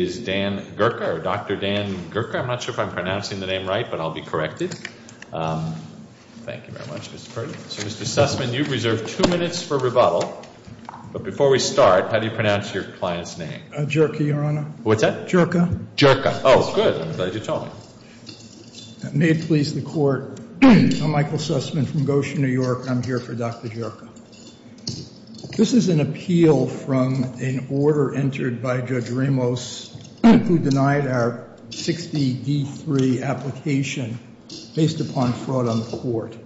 It is Dan Gurka or Dr. Dan Gurka, I'm not sure if I'm pronouncing the name right, but I'll be corrected. Thank you very much, Mr. Perkins. So Mr. Sussman, you've reserved two minutes for rebuttal, but before we start, how do you pronounce your client's name? Jurka, Your Honor. What's that? Jurka. Jurka. Oh, good, I'm glad you told me. May it please the court, I'm Michael Sussman from Goshen, New York, and I'm here for Dr. Jurka. This is an appeal from an order entered by Judge Ramos who denied our 60D3 application based upon fraud on the court.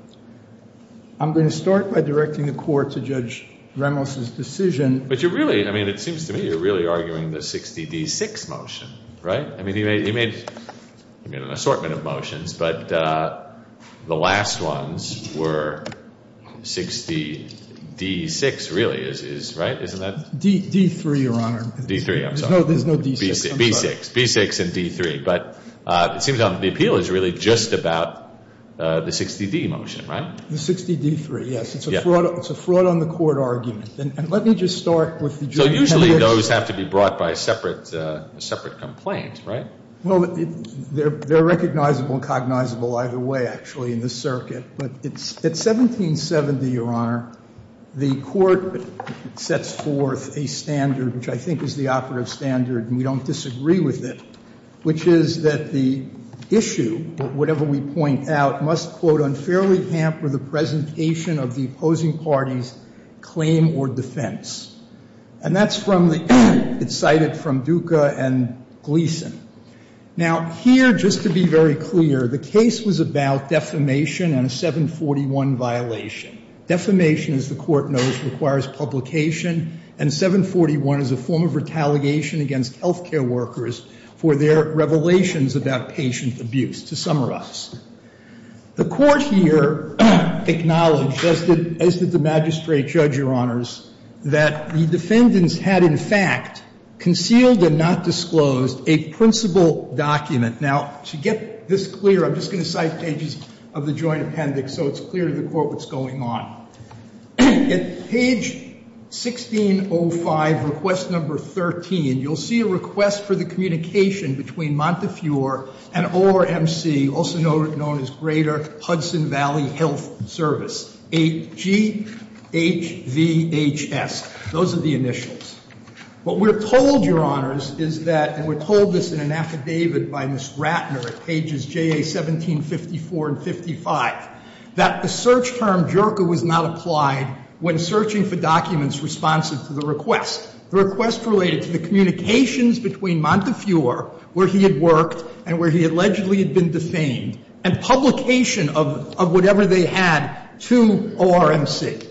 I'm going to start by directing the court to Judge Ramos's decision. But you're really, I mean, it seems to me you're really arguing the 60D6 motion, right? I mean, he made an assortment of motions, but the last ones were 60D6, really, right? Isn't that? D3, Your Honor. D3, I'm sorry. There's no D6. B6. B6 and D3. But it seems to me the appeal is really just about the 60D motion, right? The 60D3, yes. It's a fraud on the court argument. And let me just start with the joint evidence. Clearly, those have to be brought by a separate complaint, right? Well, they're recognizable and cognizable either way, actually, in this circuit. But at 1770, Your Honor, the court sets forth a standard, which I think is the operative standard, and we don't disagree with it, which is that the issue, whatever we point out, must, quote, unfairly hamper the presentation of the opposing party's claim or defense. And that's from the, it's cited from Duca and Gleason. Now, here, just to be very clear, the case was about defamation and a 741 violation. Defamation, as the court knows, requires publication, and 741 is a form of retaliation against health care workers for their revelations about patient abuse, to summarize. The court here acknowledged, as did the magistrate judge, Your Honors, that the defendants had, in fact, concealed and not disclosed a principal document. Now, to get this clear, I'm just going to cite pages of the joint appendix so it's clear to the court what's going on. At page 1605, request number 13, you'll see a request for the communication between Montefiore and ORMC, also known as Greater Hudson Valley Health Service, G-H-V-H-S. Those are the initials. What we're told, Your Honors, is that, and we're told this in an affidavit by Ms. Ratner at pages J-A-1754 and 55, that the search term jerker was not applied when searching for documents responsive to the request. The request related to the communications between Montefiore, where he had worked and where he allegedly had been defamed, and publication of whatever they had to ORMC.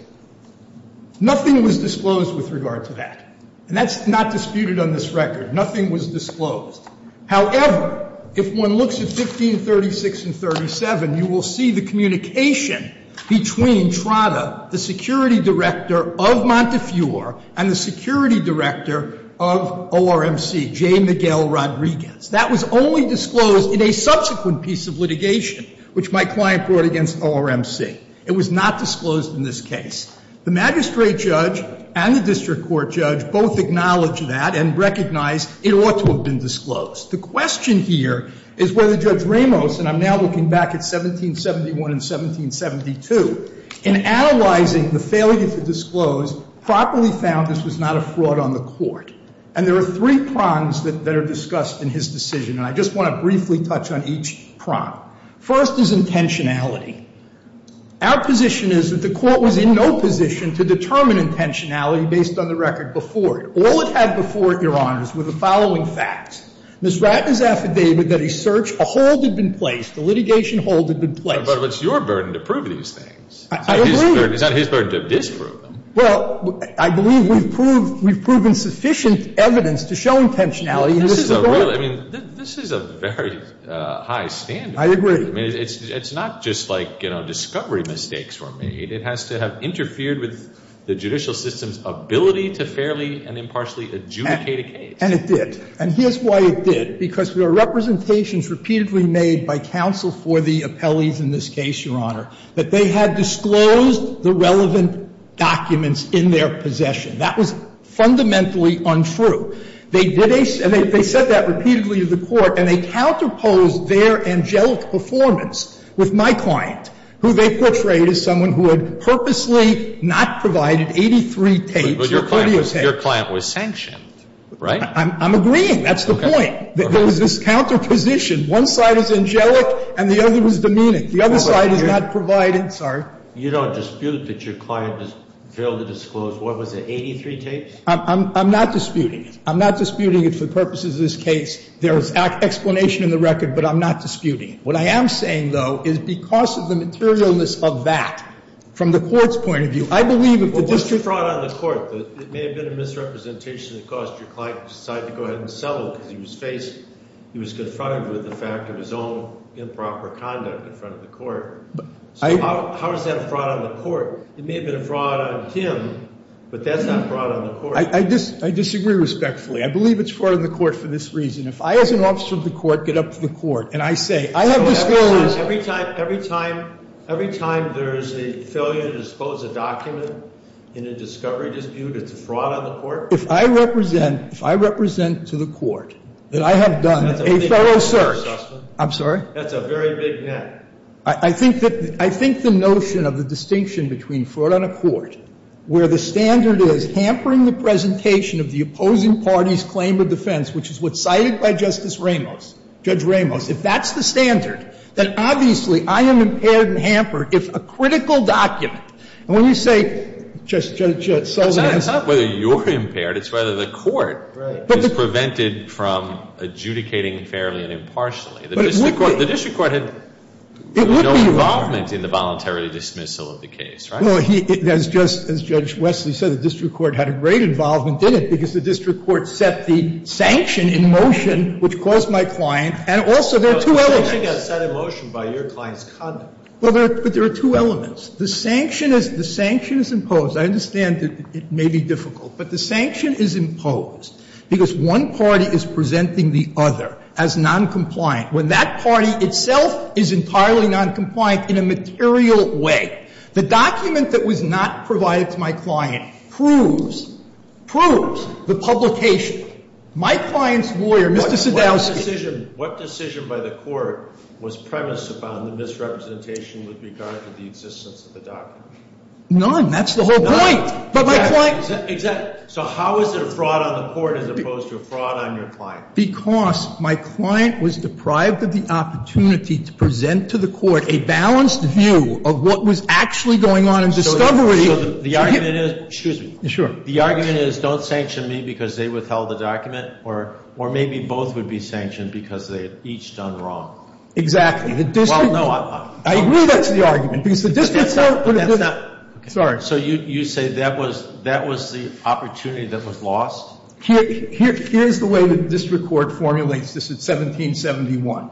Nothing was disclosed with regard to that, and that's not disputed on this record. Nothing was disclosed. However, if one looks at 1536 and 37, you will see the communication between Trotta, the security director of Montefiore, and the security director of ORMC, J. Miguel Rodriguez. That was only disclosed in a subsequent piece of litigation, which my client brought against ORMC. It was not disclosed in this case. The magistrate judge and the district court judge both acknowledged that and recognized it ought to have been disclosed. The question here is whether Judge Ramos, and I'm now looking back at 1771 and 1772, in analyzing the failure to disclose, properly found this was not a fraud on the court. And there are three prongs that are discussed in his decision, and I just want to briefly touch on each prong. First is intentionality. Our position is that the court was in no position to determine intentionality based on the record before it. All it had before it, Your Honors, were the following facts. Ms. Ratner's affidavit that a search, a hold had been placed, a litigation hold had been placed. And the court had no intentionality. But it's your burden to prove these things. I agree. It's not his burden to disprove them. Well, I believe we've proved, we've proven sufficient evidence to show intentionality. This is a real, I mean, this is a very high standard. I agree. I mean, it's not just like, you know, discovery mistakes were made. It has to have interfered with the judicial system's ability to fairly and impartially adjudicate a case. And it did. And here's why it did. Because there are representations repeatedly made by counsel for the appellees in this case, Your Honor, that they had disclosed the relevant documents in their possession. That was fundamentally untrue. They did a, they said that repeatedly to the court, and they counterposed their angelic performance with my client, who they portrayed as someone who had purposely not provided 83 tapes of videotapes. Your client was sanctioned, right? I'm agreeing. That's the point. There was this counterposition. One side is angelic, and the other was demeaning. The other side is not providing, sorry. You don't dispute that your client failed to disclose, what was it, 83 tapes? I'm not disputing it. I'm not disputing it for purposes of this case. There is explanation in the record, but I'm not disputing it. What I am saying, though, is because of the materialness of that, from the court's point of view, I believe if the district- But what's the fraud on the court? It may have been a misrepresentation that caused your client to decide to go ahead and settle because he was faced, he was confronted with the fact of his own improper conduct in front of the court. So how is that a fraud on the court? It may have been a fraud on him, but that's not fraud on the court. I disagree respectfully. I believe it's fraud on the court for this reason. If I, as an officer of the court, get up to the court and I say, I have disclosed- Every time there's a failure to dispose a document in a discovery dispute, it's a fraud on the court? If I represent to the court that I have done a thorough search, I'm sorry? That's a very big net. I think the notion of the distinction between fraud on a court, where the standard is hampering the presentation of the opposing party's claim of defense, which is what's cited by Justice Ramos, Judge Ramos, if that's the standard, then obviously I am impaired and hampered if a critical document. And when you say, Judge Sullivan, it's not whether you're impaired, it's whether the court is prevented from adjudicating fairly and impartially. The district court had no involvement in the voluntary dismissal of the case, right? Well, it has just, as Judge Wesley said, the district court had a great involvement in it because the district court set the sanction in motion, which caused my client and also there are two elements- But the sanction got set in motion by your client's conduct. Well, there are two elements. The sanction is imposed. I understand it may be difficult, but the sanction is imposed because one party is presenting the other as noncompliant when that party itself is entirely noncompliant in a material way. The document that was not provided to my client proves, proves the publication. My client's lawyer, Mr. Sadowski- What decision by the court was premised upon the misrepresentation with regard to the existence of the document? None. That's the whole point. None. But my client- Exactly. So how is it a fraud on the court as opposed to a fraud on your client? Because my client was deprived of the opportunity to present to the court a balanced view of what was actually going on in discovery. So the argument is- Excuse me. Sure. The argument is don't sanction me because they withheld the document or maybe both would be sanctioned because they had each done wrong. Exactly. The district- Well, no, I- I agree that's the argument because the district's not- But that's not- Sorry. So you say that was the opportunity that was lost? Here's the way the district court formulates this. It's 1771.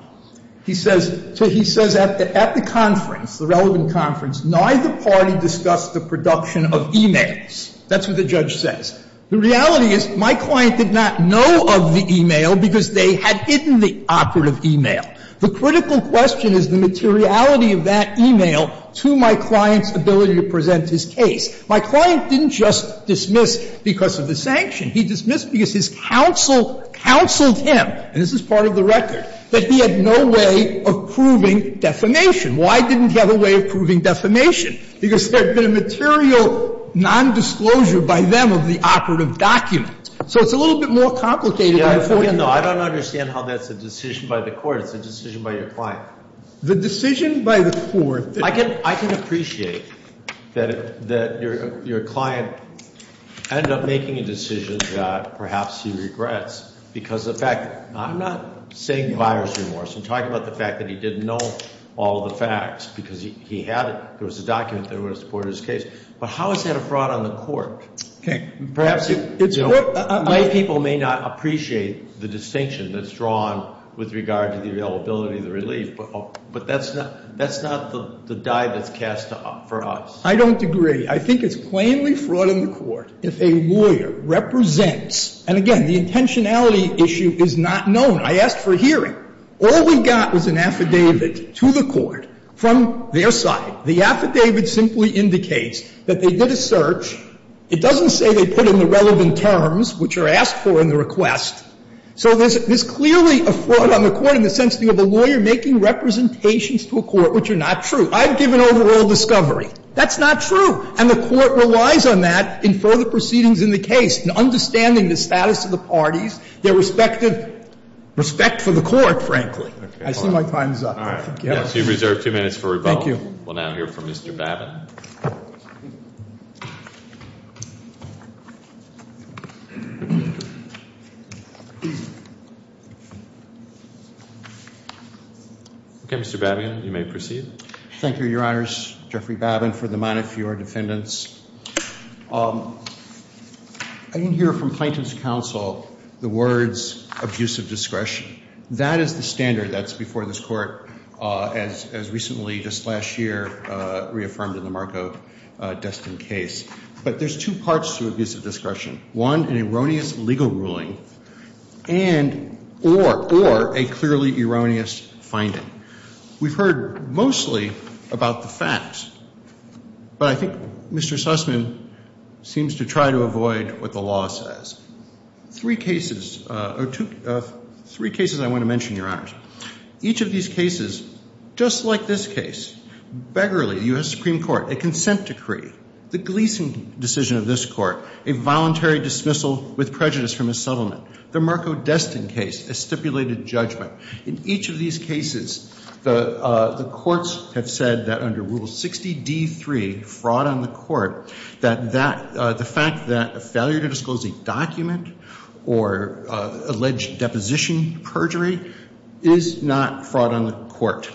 He says at the conference, the relevant conference, neither party discussed the production of e-mails. That's what the judge says. The reality is my client did not know of the e-mail because they had hidden the operative e-mail. The critical question is the materiality of that e-mail to my client's ability to present his case. My client didn't just dismiss because of the sanction. He dismissed because his counsel counseled him, and this is part of the record, that he had no way of proving defamation. Why didn't he have a way of proving defamation? Because there had been a material nondisclosure by them of the operative document. So it's a little bit more complicated than the 40- No, I don't understand how that's a decision by the court. It's a decision by your client. The decision by the court- I can appreciate that your client ended up making a decision that perhaps he regrets because of the fact that I'm not saying buyer's remorse. I'm talking about the fact that he didn't know all the facts because he had it. There was a document that would have supported his case. But how is that a fraud on the court? Okay, perhaps it's what- My people may not appreciate the distinction that's drawn with regard to the availability of the relief, but that's not the dive that's cast for us. I don't agree. I think it's plainly fraud in the court if a lawyer represents, and again, the intentionality issue is not known. I asked for a hearing. All we got was an affidavit to the court from their side. The affidavit simply indicates that they did a search. It doesn't say they put in the relevant terms, which are asked for in the request. So there's clearly a fraud on the court in the sense of a lawyer making representations to a court which are not true. I've given overall discovery. That's not true. And the court relies on that in further proceedings in the case, in understanding the status of the parties, their respective respect for the court, frankly. I see my time is up. You have reserved two minutes for rebuttal. Thank you. We'll now hear from Mr. Babin. Okay, Mr. Babin, you may proceed. Thank you, Your Honors. Jeffrey Babin for the minute, for your defendants. I didn't hear from plaintiff's counsel the words abusive discretion. That is the standard that's before this Court as recently, just last year, reaffirmed in the Marco Destin case. But there's two parts to abusive discretion. One, an erroneous legal ruling, and or, or a clearly erroneous finding. We've heard mostly about the facts. But I think Mr. Sussman seems to try to avoid what the law says. Three cases, or two, three cases I want to mention, Your Honors. Each of these cases, just like this case, Beggarly, U.S. Supreme Court, a consent decree, the Gleason decision of this Court, a voluntary dismissal with prejudice from a settlement, the Marco Destin case, a stipulated judgment. In each of these cases, the courts have said that under Rule 60D3, fraud on the court, that the fact that a failure to disclose a document or alleged deposition perjury is not fraud on the court,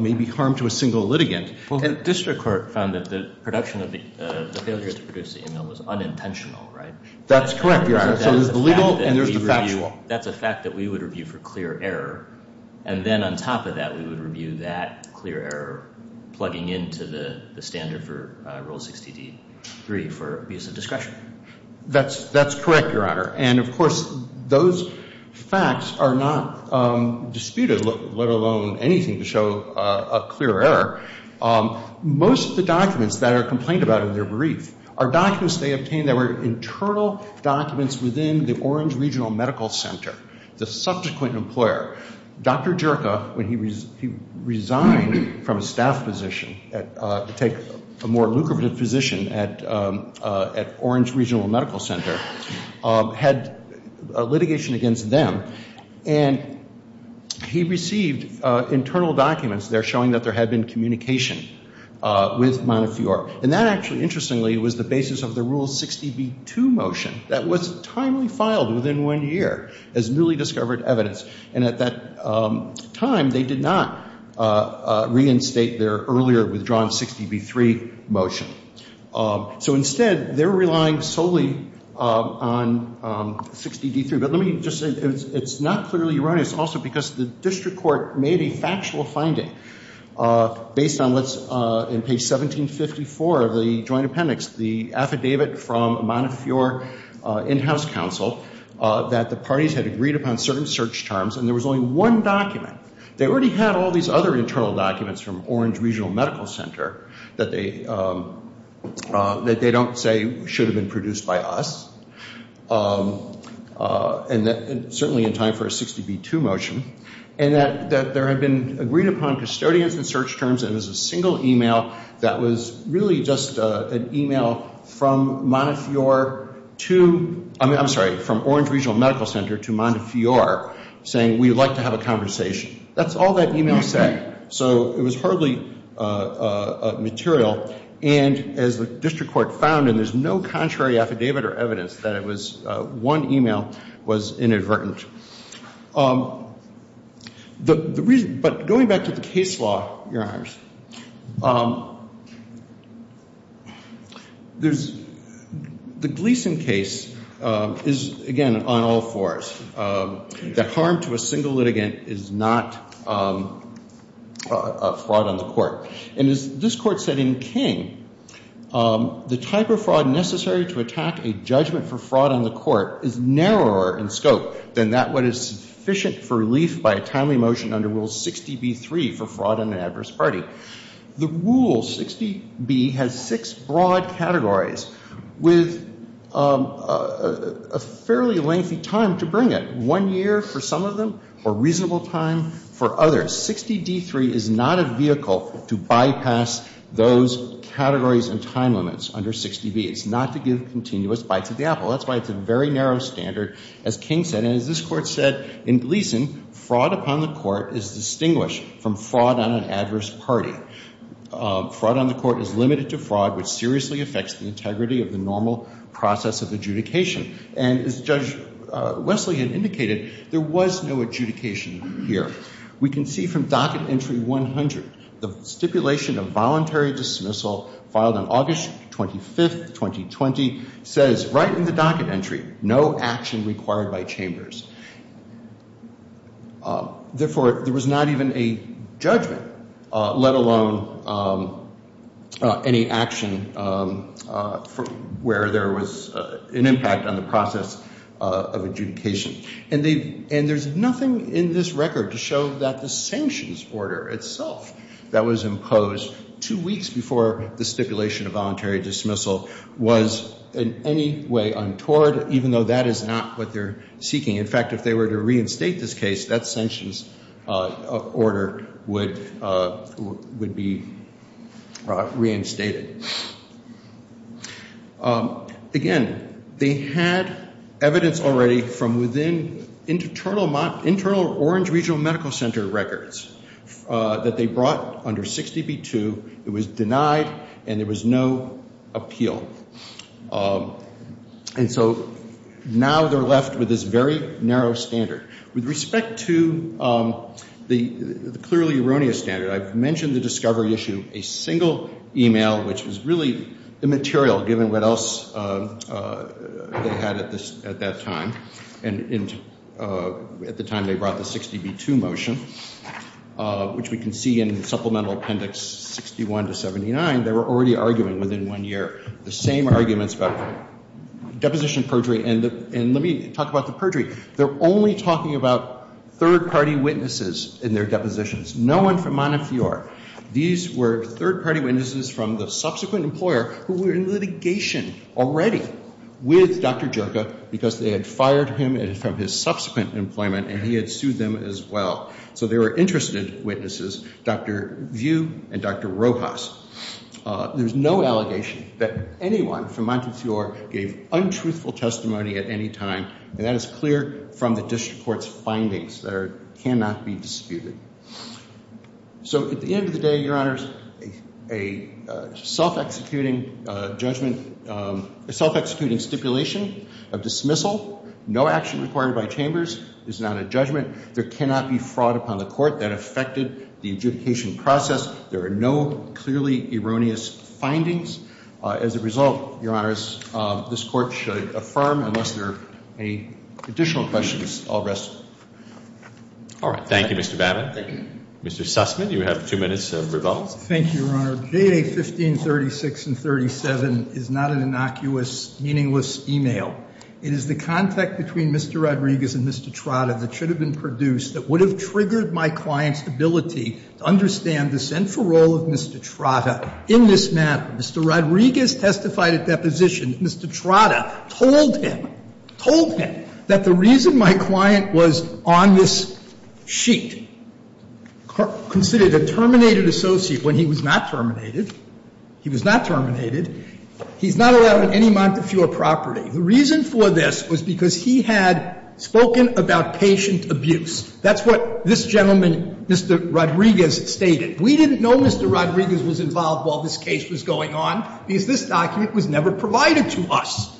may be harm to a single litigant. Well, the district court found that the production of the, the failure to produce the email was unintentional, right? That's correct, Your Honors. So there's the legal and there's the factual. That's a fact that we would review for clear error. And then on top of that, we would review that clear error, plugging into the standard for Rule 60D3 for abuse of discretion. That's correct, Your Honor. And of course, those facts are not disputed, let alone anything to show a clear error. Most of the documents that are complained about in their brief are documents they obtained that were internal documents within the Orange Regional Medical Center, the subsequent employer. Dr. Jerka, when he resigned from a staff position, take a more lucrative position at Orange Regional Medical Center, had litigation against them. And he received internal documents there showing that there had been communication with Montefiore. And that actually, interestingly, was the basis of the Rule 60B2 motion that was timely filed within one year as newly discovered evidence. And at that time, they did not reinstate their earlier withdrawn 60B3 motion. So instead, they're relying solely on 60D3. But let me just say, it's not clearly erroneous also, because the district court made a factual finding based on what's in page 1754 of the joint appendix, the affidavit from Montefiore in-house counsel, that the parties had agreed upon certain search terms. And there was only one document. They already had all these other internal documents from Orange Regional Medical Center that they don't say should have been produced by us, and certainly in time for a 60B2 motion. And that there had been agreed upon custodians and search terms. And it was a single email that was really just an email from Montefiore to, I'm sorry, from Orange Regional Medical Center to Montefiore saying, we'd like to have a conversation. That's all that email said. So it was hardly material. And as the district court found, and there's no contrary affidavit or evidence that it was, one email was inadvertent. But going back to the case law, Your Honors, the Gleason case is, again, on all fours. The harm to a single litigant is not a fraud on the court. And as this court said in King, the type of fraud necessary to attack a judgment for fraud on the court is narrower in scope than that what is sufficient for relief by a timely motion under Rule 60B3 for fraud on an adverse party. The Rule 60B has six broad categories with a fairly lengthy time to bring it. One year for some of them, a reasonable time for others. 60D3 is not a vehicle to bypass those categories and time limits under 60B. It's not to give continuous bites at the apple. That's why it's a very narrow standard, as King said. And as this court said in Gleason, fraud upon the court is distinguished from fraud on an adverse party. Fraud on the court is limited to fraud, which seriously affects the integrity of the normal process of adjudication. And as Judge Wesley had indicated, there was no adjudication here. We can see from docket entry 100, the stipulation of voluntary dismissal filed on August 25, 2020, says right in the docket entry, no action required by chambers. Therefore, there was not even a judgment, let alone any action where there was an impact on the process of adjudication. And there's nothing in this record to show that the sanctions order itself that was imposed two weeks before the stipulation of voluntary dismissal was in any way untoward, even though that is not what they're seeking. In fact, if they were to reinstate this case, that sanctions order would be reinstated. Again, they had evidence already from within internal Orange Regional Medical Center records that they brought under 60B2. It was denied, and there was no appeal. And so now they're left with this very narrow standard. With respect to the clearly erroneous standard, I've mentioned the discovery issue a single email, which was really immaterial, given what else they had at that time. And at the time they brought the 60B2 motion, which we can see in supplemental appendix 61 to 79, they were already arguing within one year the same arguments about deposition perjury, and let me talk about the perjury. They're only talking about third party witnesses in their depositions, no one from Montefiore. These were third party witnesses from the subsequent employer who were in litigation already with Dr. Joka because they had fired him from his subsequent employment, and he had sued them as well. So they were interested witnesses, Dr. View and Dr. Rojas. There's no allegation that anyone from Montefiore gave untruthful testimony at any time, and that is clear from the district court's findings that cannot be disputed. So at the end of the day, Your Honors, a self-executing judgment, a self-executing stipulation of dismissal, no action required by chambers, is not a judgment. There cannot be fraud upon the court that affected the adjudication process. There are no clearly erroneous findings. As a result, Your Honors, this court should affirm. Unless there are any additional questions, I'll rest. All right, thank you, Mr. Babin. Mr. Sussman, you have two minutes of rebuttal. Thank you, Your Honor. J.A. 1536 and 37 is not an innocuous, meaningless email. It is the contact between Mr. Rodriguez and Mr. Trotta that should have been produced that would have triggered my client's ability to understand the central role of Mr. Trotta in this matter. Mr. Rodriguez testified at deposition. Mr. Trotta told him, told him that the reason my client was on this sheet, considered a terminated associate when he was not terminated, he was not terminated. He's not allowed on any Montefiore property. The reason for this was because he had spoken about patient abuse. That's what this gentleman, Mr. Rodriguez, stated. We didn't know Mr. Rodriguez was involved while this case was going on because this document was never provided to us.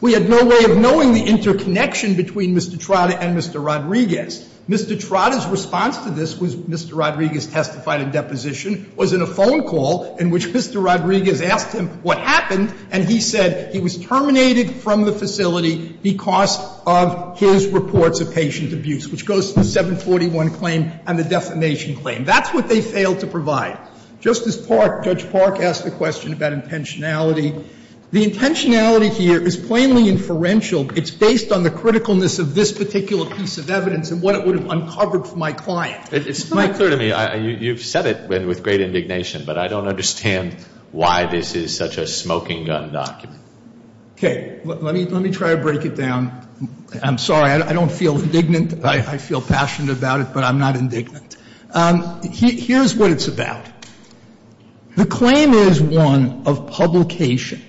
We had no way of knowing the interconnection between Mr. Trotta and Mr. Rodriguez. Mr. Trotta's response to this was Mr. Rodriguez testified at deposition, was in a phone call in which Mr. Rodriguez asked him what happened, and he said he was terminated from the facility because of his reports of patient abuse, which goes to the 741 claim and the defamation claim. That's what they failed to provide. Justice Park, Judge Park, asked a question about intentionality. The intentionality here is plainly inferential. It's based on the criticalness of this particular piece of evidence and what it would have uncovered for my client. It's not clear to me. You've said it with great indignation, but I don't understand why this is such a smoking gun document. Okay. Let me try to break it down. I'm sorry. I don't feel indignant. I feel passionate about it, but I'm not indignant. Here's what it's about. The claim is one of publication,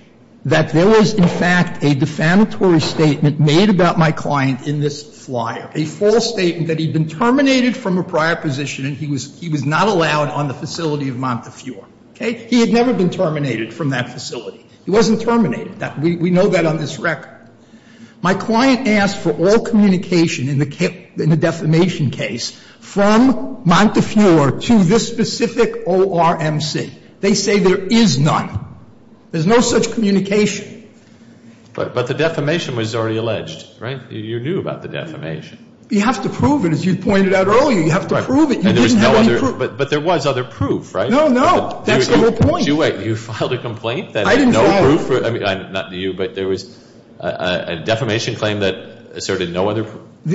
that there was, in fact, a defamatory statement made about my client in this flyer, a false statement that he'd been terminated from a prior position and he was not allowed on the facility of Montefiore. Okay? He had never been terminated from that facility. He wasn't terminated. We know that on this record. My client asked for all communication in the defamation case from Montefiore to this specific ORMC. They say there is none. There's no such communication. But the defamation was already alleged, right? You knew about the defamation. You have to prove it, as you pointed out earlier. You have to prove it. You didn't have any proof. But there was other proof, right? No, no. That's the whole point. You filed a complaint that had no proof. I mean, not you, but there was a defamation claim that asserted no other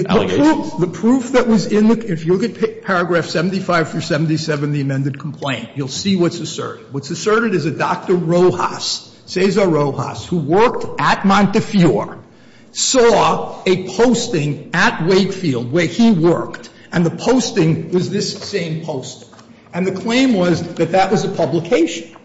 allegations. The proof that was in the case, if you look at paragraph 75 through 77 of the amended complaint, you'll see what's asserted. What's asserted is that Dr. Rojas, Cesar Rojas, who worked at Montefiore, saw a posting at Wakefield where he worked, and the posting was this same posting. And the claim was that that was a publication.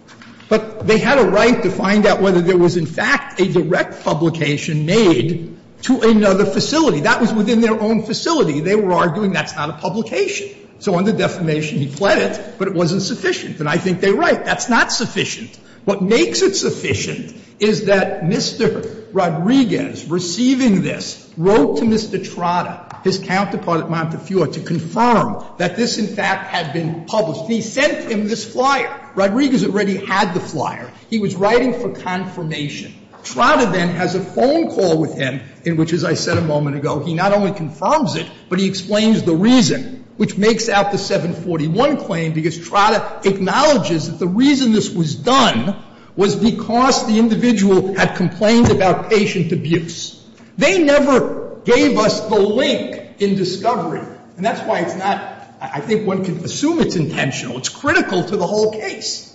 But they had a right to find out whether there was, in fact, a direct publication made to another facility. That was within their own facility. They were arguing that's not a publication. So under defamation, he pled it, but it wasn't sufficient. And I think they're right. That's not sufficient. What makes it sufficient is that Mr. Rodriguez, receiving this, wrote to Mr. Trotta, his counterpart at Montefiore, to confirm that this, in fact, had been published. And he sent him this flyer. Rodriguez already had the flyer. He was writing for confirmation. Trotta then has a phone call with him in which, as I said a moment ago, he not only confirms it, but he explains the reason, which makes out the 741 claim, because Trotta acknowledges that the reason this was done was because the individual had complained about patient abuse. They never gave us the link in discovery. And that's why it's not – I think one can assume it's intentional. It's critical to the whole case.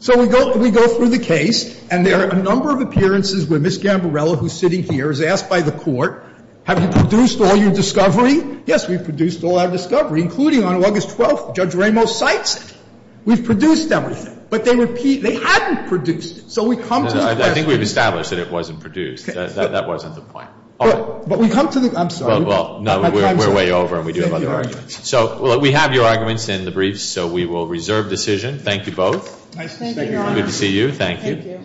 So we go through the case, and there are a number of appearances where Ms. Gambarella, who's sitting here, is asked by the court, have you produced all your discovery? Yes, we've produced all our discovery, including on August 12th, Judge Ramos cites it. We've produced everything. But they repeat they hadn't produced it. So we come to the question. I think we've established that it wasn't produced. That wasn't the point. But we come to the – I'm sorry. Well, no, we're way over, and we do have other arguments. So we have your arguments in the briefs, so we will reserve decision. Thank you both. Thank you, Your Honor. Good to see you. Thank you.